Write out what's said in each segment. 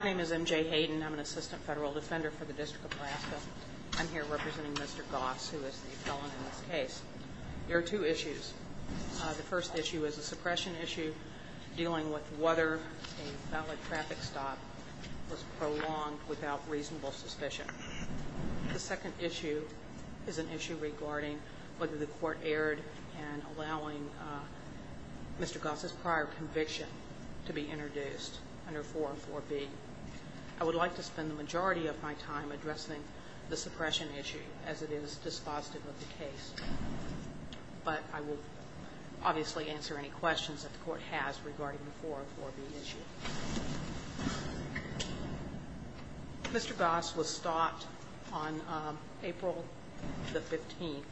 My name is MJ Hayden. I'm an assistant federal defender for the District of Alaska. I'm here representing Mr. Goss, who is the felon in this case. There are two issues. The first issue is a suppression issue dealing with whether a valid traffic stop was prolonged without reasonable suspicion. The second issue is an issue regarding whether the court erred in allowing Mr. Goss's prior conviction to be suspended. I would like to spend the majority of my time addressing the suppression issue as it is dispositive of the case, but I will obviously answer any questions that the court has regarding the 404B issue. Mr. Goss was stopped on April 15,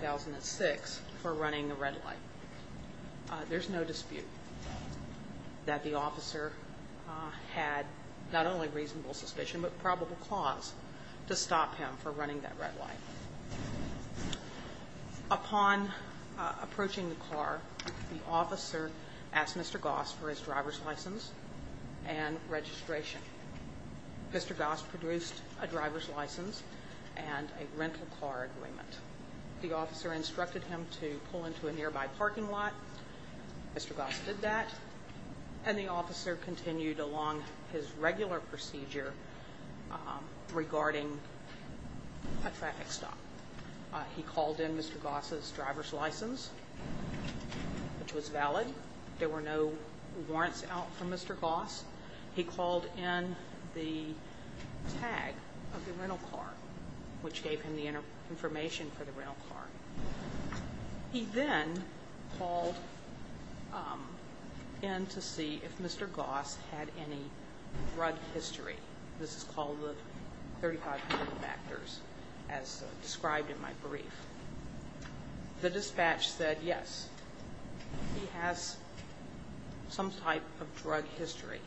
2006 for running the red light. There's no dispute that the court had not only reasonable suspicion but probable cause to stop him for running that red light. Upon approaching the car, the officer asked Mr. Goss for his driver's license and registration. Mr. Goss produced a driver's license and a rental car agreement. The officer instructed him to pull into a nearby parking lot. Mr. Goss did that, and the officer did his regular procedure regarding a traffic stop. He called in Mr. Goss's driver's license, which was valid. There were no warrants out for Mr. Goss. He called in the tag of the rental car, which gave him the information for the rental car. He then called in to see if he had any drug history. This is called the 35 factors as described in my brief. The dispatch said yes, he has some type of drug history,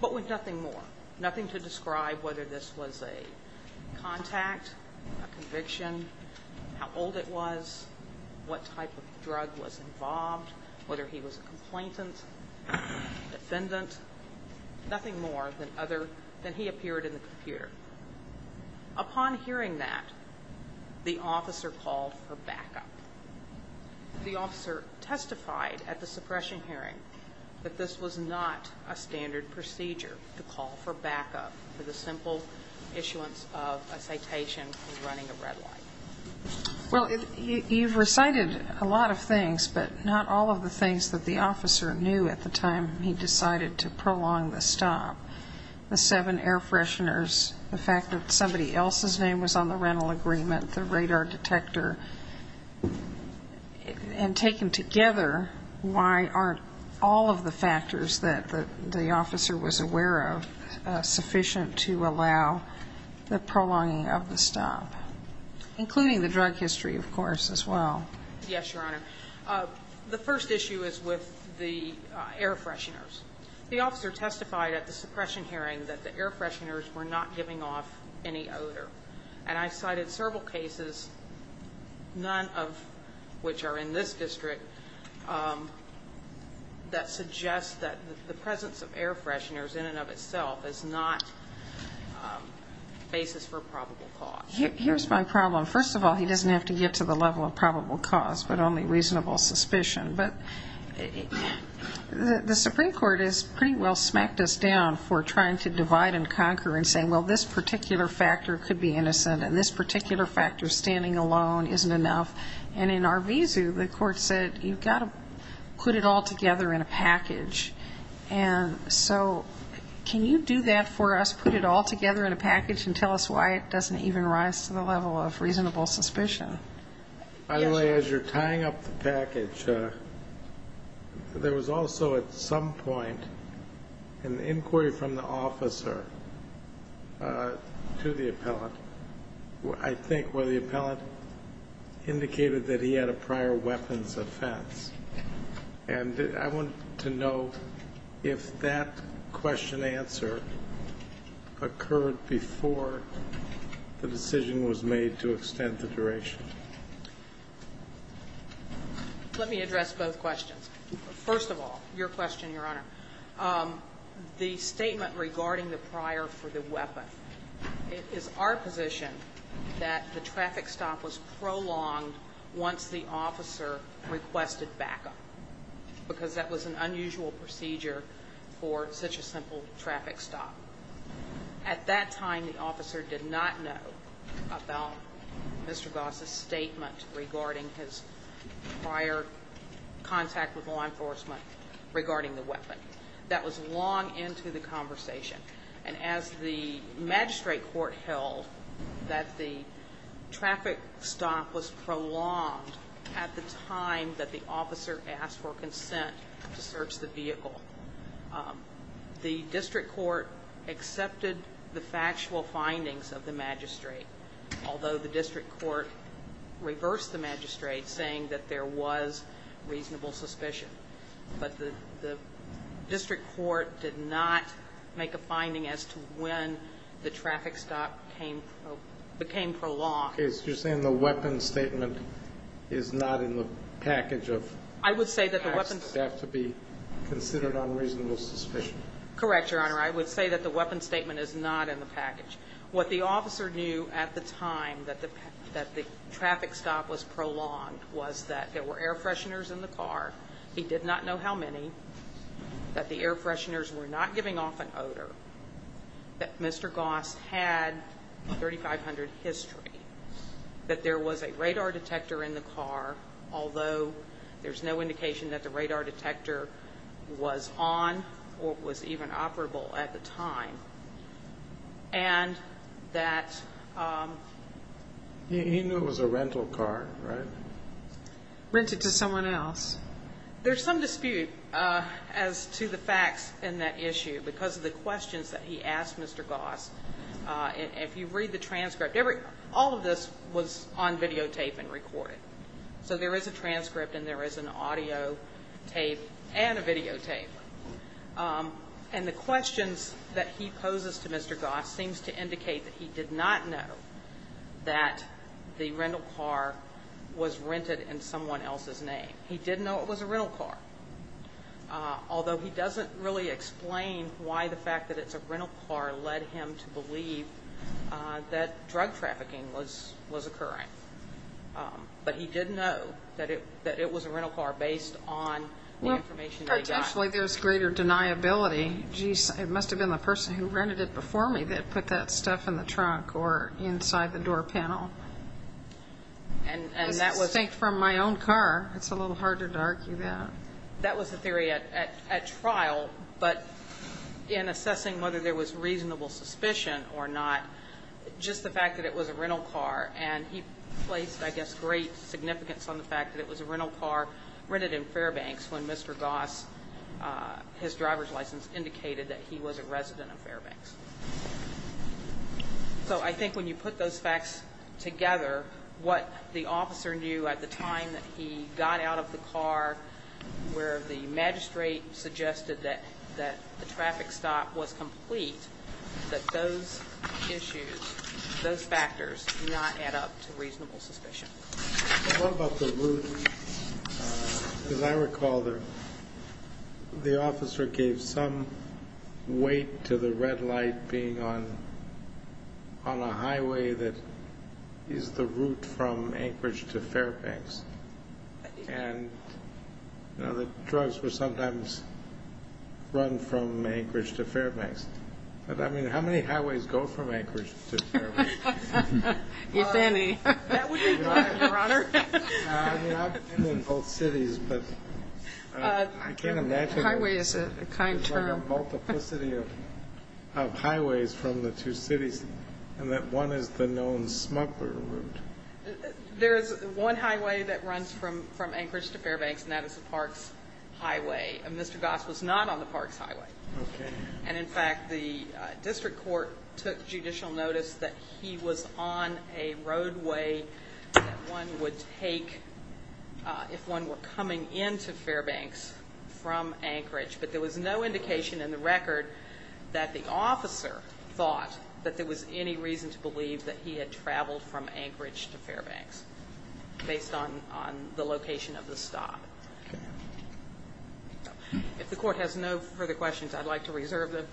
but with nothing more. Nothing to describe whether this was a contact, a conviction, how old it was, what type of drug was involved, whether he was a complainant, defendant, nothing more than he appeared in the computer. Upon hearing that, the officer called for backup. The officer testified at the suppression hearing that this was not a standard procedure to call for backup for the simple issuance of a citation and running a red light. Well, you've recited a lot of things, but not all of the things that the officer knew at the time he decided to prolong the stop. The seven air fresheners, the fact that somebody else's name was on the rental agreement, the radar detector, and taken together, why aren't all of the factors that the officer was aware of sufficient to allow the prolonging of the stop, including the drug history, of course, as well? Yes, Your Honor. The first issue is with the air fresheners. The officer testified at the suppression hearing that the air fresheners were not giving off any odor. And I cited several cases, none of which are in this district, that suggest that the presence of air fresheners in and of itself is not a basis for probable cause. Here's my problem. First of all, he doesn't have to get to the level of probable cause, but only reasonable suspicion. But the Supreme Court has pretty well smacked us down for trying to divide and conquer and saying, well, this particular factor could be innocent, and this particular factor, standing alone, isn't enough. And in Arvizu, the court said, you've got to put it all together in a package. And so, can you do that for us, put it all together in a package and tell us why it doesn't even rise to the level of reasonable suspicion? Finally, as you're tying up the package, there was also at some point an inquiry from the officer to the appellant, I think, where the appellant indicated that he had a prior weapons offense. And I wanted to know if that question-answer occurred before the decision was made to extend the duration. Let me address both questions. First of all, your question, Your Honor. The statement regarding the prior for the weapon, it is our position that the traffic stop was prolonged once the officer requested backup, because that was an unusual procedure for such a simple traffic stop. At that time, the officer did not know about Mr. Goss' statement regarding his prior contact with law enforcement regarding the weapon. That was long into the conversation. And as the magistrate court held that the traffic stop was prolonged at the time that the officer asked for consent to search the vehicle, the district court accepted the factual findings of the magistrate, although the district court reversed the magistrate, saying that there was reasonable suspicion. But the district court did not make a finding as to when the traffic stop became prolonged. You're saying the weapons statement is not in the package of... I would say that the weapons... to be considered on reasonable suspicion. Correct, Your Honor. I would say that the weapons statement is not in the package. What the officer knew at the time that the traffic stop was prolonged was that there were air fresheners in the car. He did not know how many. That the air fresheners were not giving off an odor. That Mr. Goss had 3,500 history. That there was a radar detector in the car, although there's no indication that the radar detector was on or was even operable at the time. And that... He knew it was a rental car, right? Rented to someone else. There's some dispute as to the facts in that issue because of the questions that he asked Mr. Goss. If you read the transcript, all of this was on videotape and there is an audio tape and a videotape. And the questions that he poses to Mr. Goss seems to indicate that he did not know that the rental car was rented in someone else's name. He didn't know it was a rental car. Although he doesn't really explain why the fact that it's a rental car led him to believe that drug trafficking was occurring. But he did know that it was a rental car based on the information that he got. Well, potentially there's greater deniability. It must have been the person who rented it before me that put that stuff in the trunk or inside the door panel. I think from my own car, it's a little harder to argue that. That was the theory at trial, but in assessing whether there was reasonable suspicion or not, just the fact that it was a rental car. And he placed, I guess, great significance on the fact that it was a rental car rented in Fairbanks when Mr. Goss his driver's license indicated that he was a resident of Fairbanks. So I think when you put those facts together, what the officer knew at the time that he got out of the car, where the magistrate suggested that the traffic stop was complete, that those issues, those factors do not add up to reasonable suspicion. What about the route? As I recall, the officer gave some weight to the red light being on a highway that is the route from Anchorage to Fairbanks. sometimes run from Anchorage to Fairbanks. But I mean, how many highways go from Anchorage to Fairbanks? If any. I've been in both cities, but I can't imagine a multiplicity of highways from the two cities, and that one is the known smuggler route. There is one highway that runs from Anchorage to Fairbanks, and that is the Parks Highway. Mr. Goss was not on the Parks The district court took judicial notice that he was on a roadway that one would take if one were coming into Fairbanks from Anchorage. But there was no indication in the record that the officer thought that there was any reason to believe that he had traveled from Anchorage to Fairbanks, based on the location of the stop. If the court has no further questions, I'd like to reserve them.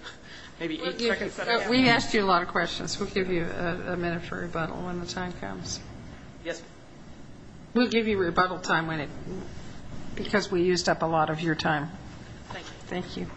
We asked you a lot of questions. We'll give you a minute for rebuttal when the time comes. We'll give you rebuttal time because we used up a lot of your time. Thank you.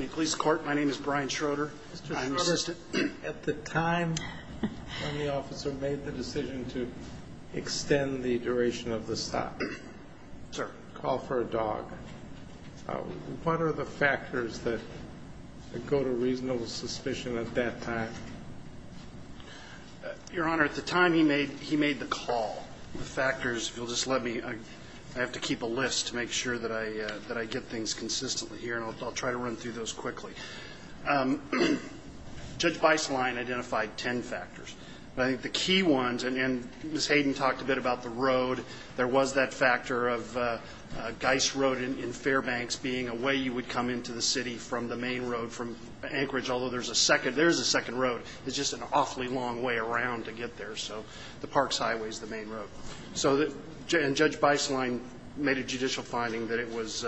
In the police court, my name is Brian Schroeder. At the time when the officer made the decision to extend the duration of the stop to call for a dog, what are the factors that go to reasonable suspicion at that time? Your Honor, at the time he made the call, the factors, if you'll just let me, I have to keep a list to make sure that I get things consistently here, and I'll try to run through those quickly. Judge Beislein identified ten factors. I think the key ones, and Ms. Hayden talked a bit about the road. There was that factor of Geist Road in Fairbanks being a way you would come into the city from the main road from Anchorage, although there's a second road. It's just an awfully long way around to get there. So the Parks Highway is the main road. And Judge Beislein made a judicial finding that it was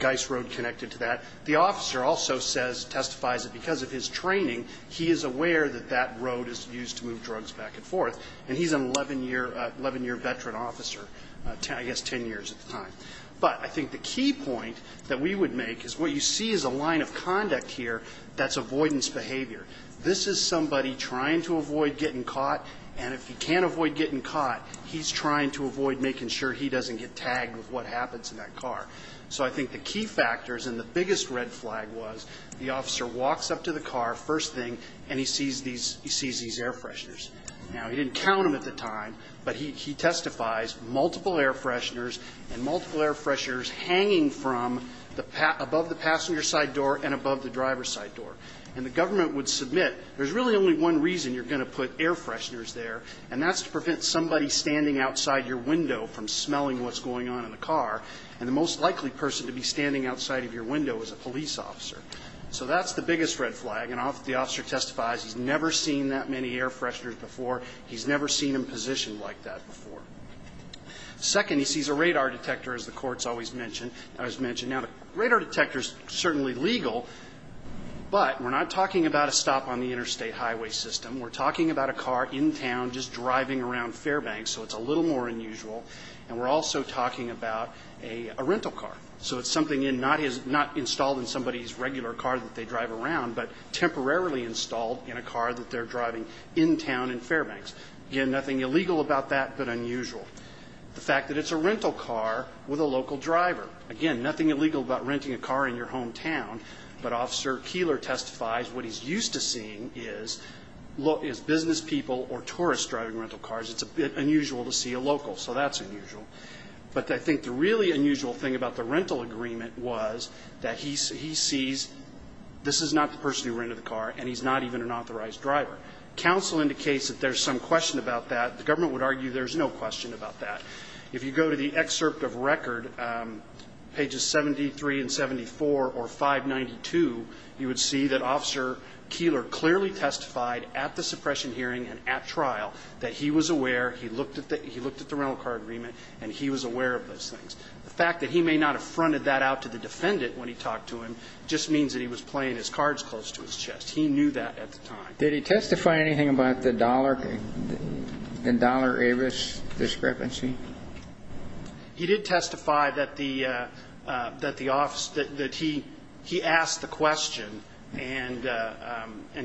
Geist Road connected to that. The officer also testifies that because of his training, he is aware that that road is used to move drugs back and forth. And he's an 11-year veteran officer, I guess ten years at the time. But I think the key point that we would make is what you see as a line of conduct here, that's avoidance behavior. This is somebody trying to avoid getting caught, and if he can't avoid getting caught, he's trying to avoid making sure he doesn't get tagged with what happens in that car. So I think the key factors, and the biggest red flag was the officer walks up to the car, first thing, and he sees these air fresheners. Now, he didn't count them at the time, but he testifies multiple air fresheners, and multiple air fresheners hanging from above the passenger side door and above the driver's side door. And the government would submit, there's really only one reason you're going to put air fresheners there, and that's to prevent somebody standing outside your window from and the most likely person to be standing outside of your window is a police officer. So that's the biggest red flag, and the officer testifies he's never seen that many air fresheners before. He's never seen him positioned like that before. Second, he sees a radar detector, as the court's always mentioned. Now, a radar detector's certainly legal, but we're not talking about a stop on the interstate highway system. We're talking about a car in town just driving around Fairbanks, so it's a little more unusual. And we're also talking about a rental car, so it's something not installed in somebody's regular car that they drive around, but temporarily installed in a car that they're driving in town in Fairbanks. Again, nothing illegal about that, but unusual. The fact that it's a rental car with a local driver. Again, nothing illegal about renting a car in your hometown, but Officer Keeler testifies what he's used to seeing is business people or tourists driving rental cars. It's unusual to see a local, so that's unusual. But I think the really unusual thing about the rental agreement was that he sees this is not the person who rented the car, and he's not even an authorized driver. Counsel indicates that there's some question about that. The government would argue there's no question about that. If you go to the excerpt of record, pages 73 and 74, or 592, you would see that Officer Keeler clearly testified at the suppression hearing and at trial that he was aware, he looked at the rental car agreement, and he was aware of those things. The fact that he may not have fronted that out to the defendant when he talked to him just means that he was playing his cards close to his chest. He knew that at the time. Did he testify anything about the Dollar Avis discrepancy? He did testify that the office, that he asked the question and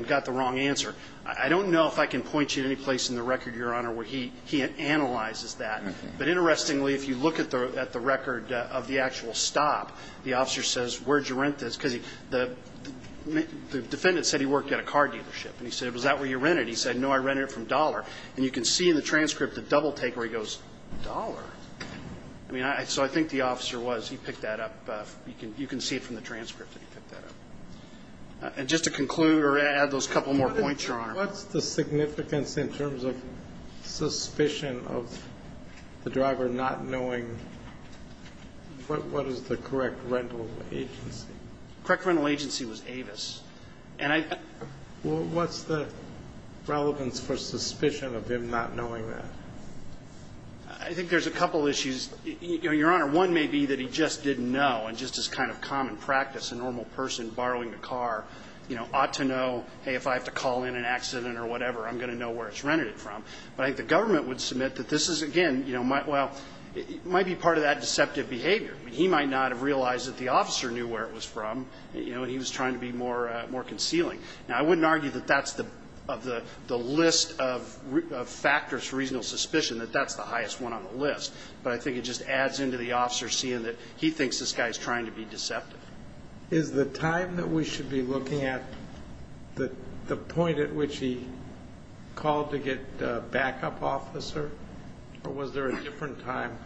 got the wrong answer. I don't know if I can point you to any place in the record, Your Honor, where he analyzes that. But interestingly, if you look at the record of the actual stop, the officer says, where did you rent this? Because the defendant said he worked at a car dealership. And he said, was that where you rented it? He said, no, I rented it from Dollar. And you can see in the transcript the double take where he goes, Dollar? I mean, so I think the officer was. He picked that up. You can see it from the transcript that he picked that up. And just to conclude or add those couple more points, Your Honor. What's the significance in terms of suspicion of the driver not knowing what is the correct rental agency? Correct rental agency was Avis. And I. What's the relevance for suspicion of him not knowing that? I think there's a couple issues. Your Honor, one may be that he just didn't know. And just as kind of common practice, a normal person borrowing a car ought to know, hey, if I have to call in an accident or whatever, I'm going to know where it's rented from. But I think the government would submit that this is, again, well, it might be part of that deceptive behavior. He might not have realized that the officer knew where it was from. And he was trying to be more concealing. Now, I wouldn't argue that that's the list of factors for reasonable suspicion, that that's the highest one on the list. But I think it just adds into the officer seeing that he thinks this guy is trying to be deceptive. Is the time that we should be looking at the point at which he called to get a backup officer? Or was there a different time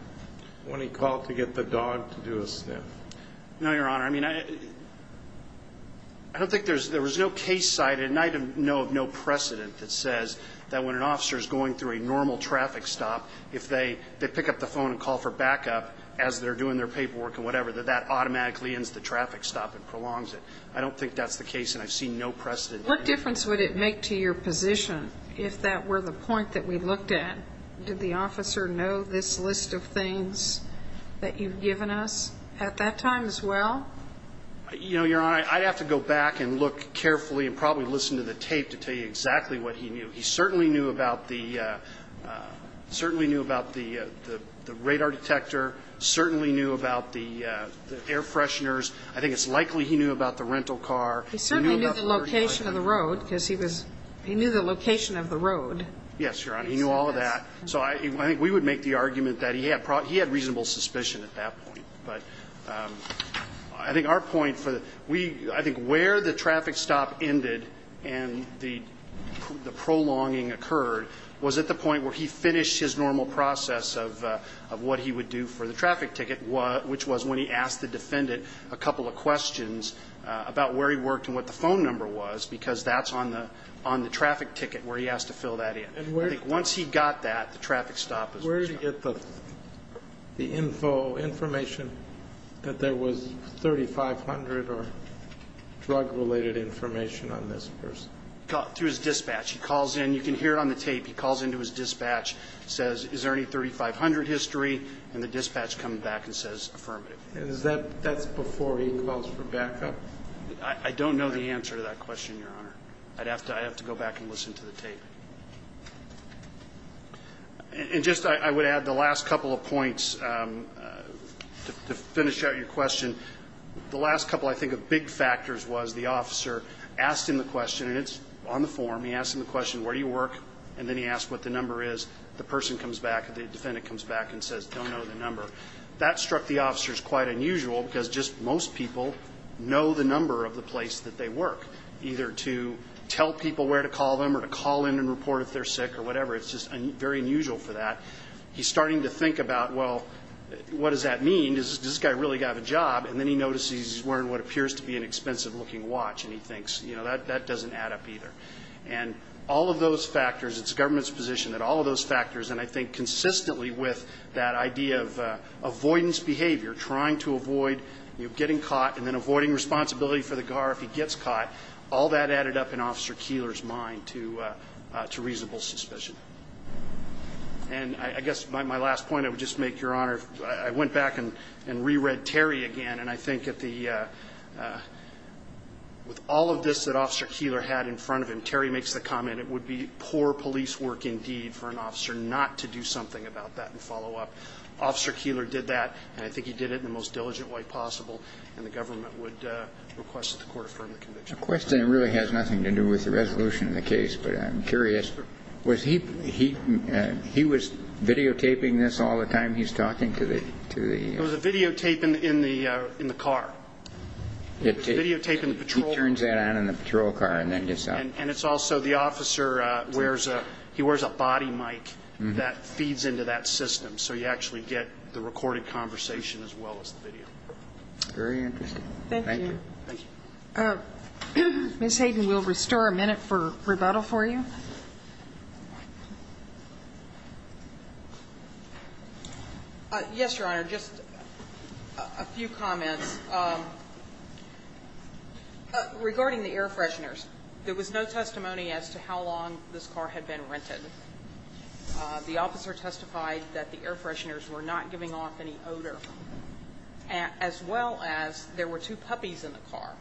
when he called to get the dog to do a sniff? No, Your Honor. I mean, I don't think there was no case cited, and I know of no precedent that says that when an officer is going through a normal traffic stop, if they pick up the dog and they're doing their paperwork and whatever, that that automatically ends the traffic stop and prolongs it. I don't think that's the case, and I've seen no precedent. What difference would it make to your position if that were the point that we looked at? Did the officer know this list of things that you've given us at that time as well? You know, Your Honor, I'd have to go back and look carefully and probably listen to the tape to tell you exactly what he knew. He certainly knew about the radar detector, certainly knew about the air fresheners. I think it's likely he knew about the rental car. He certainly knew the location of the road, because he was he knew the location of the road. Yes, Your Honor. He knew all of that. So I think we would make the argument that he had reasonable suspicion at that point. But I think our point for the we I think where the traffic stop ended and the prolonging occurred was at the point where he finished his normal process of what he would do for the traffic ticket, which was when he asked the defendant a couple of questions about where he worked and what the phone number was, because that's on the traffic ticket where he has to fill that in. I think once he got that, the traffic stop was adjourned. Where did he get the info, information that there was 3,500 or drug-related information on this person? Through his dispatch. He calls in. You can hear it on the tape. He calls into his dispatch, says, is there any 3,500 history? And the dispatch comes back and says affirmative. Is that that's before he calls for backup? I don't know the answer to that question, Your Honor. I'd have to go back and listen to the tape. And just I would add the last couple of points to finish out your question. The last couple I think of big factors was the officer asked him the question, and it's on the tape. He asked him the question, where do you work? And then he asked what the number is. The person comes back, the defendant comes back and says, don't know the number. That struck the officers quite unusual, because just most people know the number of the place that they work, either to tell people where to call them or to call in and report if they're sick or whatever. It's just very unusual for that. He's starting to think about, well, what does that mean? Does this guy really have a job? And then he notices he's wearing what appears to be an expensive-looking watch, and he thinks, you know, that doesn't add up either. And all of those factors, it's the government's position that all of those factors, and I think consistently with that idea of avoidance behavior, trying to avoid getting caught and then avoiding responsibility for the guard if he gets caught, all that added up in Officer Keillor's mind to reasonable suspicion. And I guess my last point, I would just make, Your Honor, I went back and reread Terry again, and I think at the end, with all of this that Officer Keillor had in front of him, Terry makes the comment it would be poor police work indeed for an officer not to do something about that and follow up. Officer Keillor did that, and I think he did it in the most diligent way possible, and the government would request that the Court affirm the conviction. The question really has nothing to do with the resolution of the case, but I'm curious. Was he he was videotaping this all the time he's talking to the... It was a videotape in the car. It was videotaping the patrol... He turns that on in the patrol car and then gets out. And it's also the officer wears a, he wears a body mic that feeds into that system, so you actually get the recorded conversation as well as the video. Very interesting. Thank you. Ms. Hayden, we'll restore a minute for rebuttal for you. Yes, Your Honor. Just a few comments. Regarding the air fresheners, there was no testimony as to how long this car had been rented. The officer testified that the air fresheners were not giving off any odor, as well as there were two puppies in the car.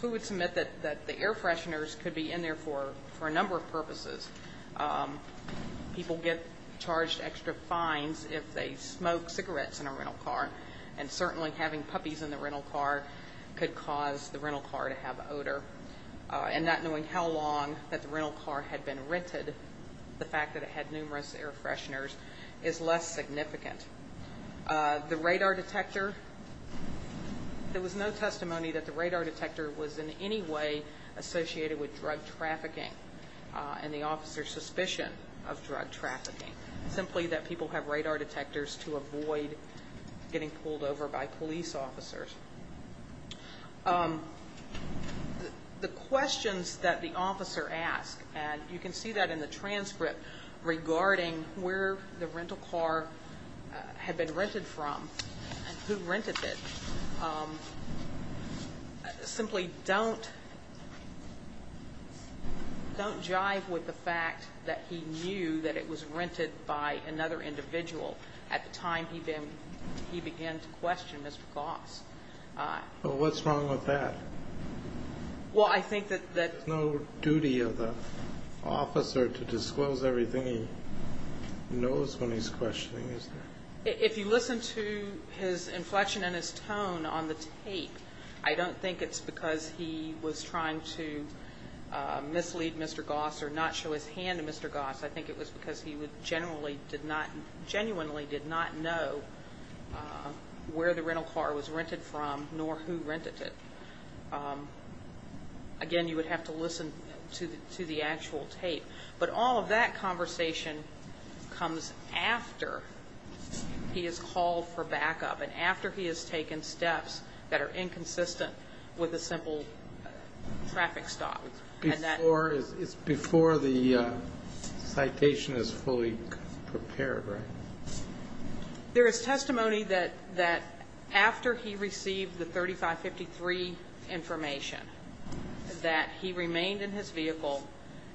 So we would submit that the air fresheners could be in there for a number of purposes. People get charged extra fines if they smoke cigarettes in a rental car. And certainly having puppies in the rental car could cause the rental car to have odor. And not knowing how long that the rental car had been rented, the fact that it had numerous air fresheners is less significant. The radar detector, there was no testimony that the radar detector was in any way associated with drug trafficking and the officer's suspicion of drug trafficking. Simply that people have radar detectors to avoid getting pulled over by police officers. The questions that the officer asked, and you can see that in the transcript, regarding where the rental car had been rented from and who rented it, simply don't jive with the fact that he knew that it was rented by another individual at the time he began to question Mr. Goss. Well, what's wrong with that? Well, I think that there's no duty of the officer to disclose everything he knows when he's questioning, is there? If you listen to his inflection and his tone on the tape, I don't think it's because he was trying to mislead Mr. Goss or not show his hand to Mr. Goss. I think it was because he genuinely did not know where the rental car was rented from nor who rented it. Again, you would have to listen to the actual tape. But all of that conversation comes after he has called for backup and after he has taken steps that are inconsistent with a simple traffic stop. It's before the citation is fully prepared, right? There is testimony that after he received the 3553 information that he remained in his vehicle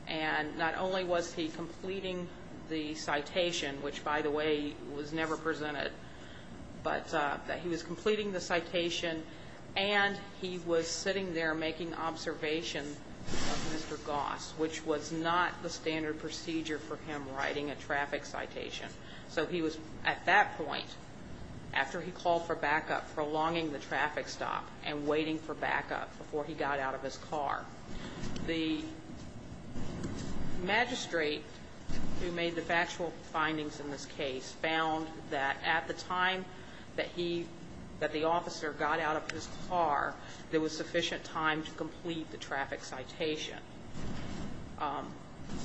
and not only was he completing the citation, which, by the way, was never presented, but he was completing the citation and he was sitting there making observation of Mr. Goss, which was not the standard procedure for him writing a traffic citation. So he was, at that point, after he called for backup, prolonging the traffic stop and waiting for backup before he got out of his car. The magistrate who made the factual findings in this case found that at the time that the officer got out of his car, there was sufficient time to complete the traffic citation.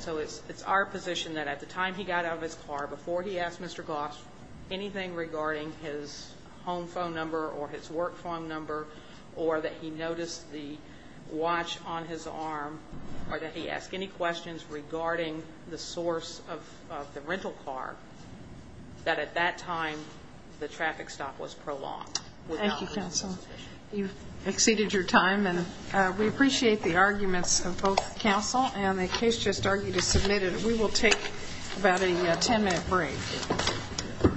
So it's our position that at the time he got out of his car, before he asked Mr. Goss anything regarding his home phone number or his work phone number or that he noticed the watch on his arm or that he asked any questions regarding the source of the rental car, that at that time, the traffic stop was prolonged. Thank you, counsel. You've exceeded your time and we appreciate the arguments of both counsel and the case just argued is submitted. We will take about a 10-minute break.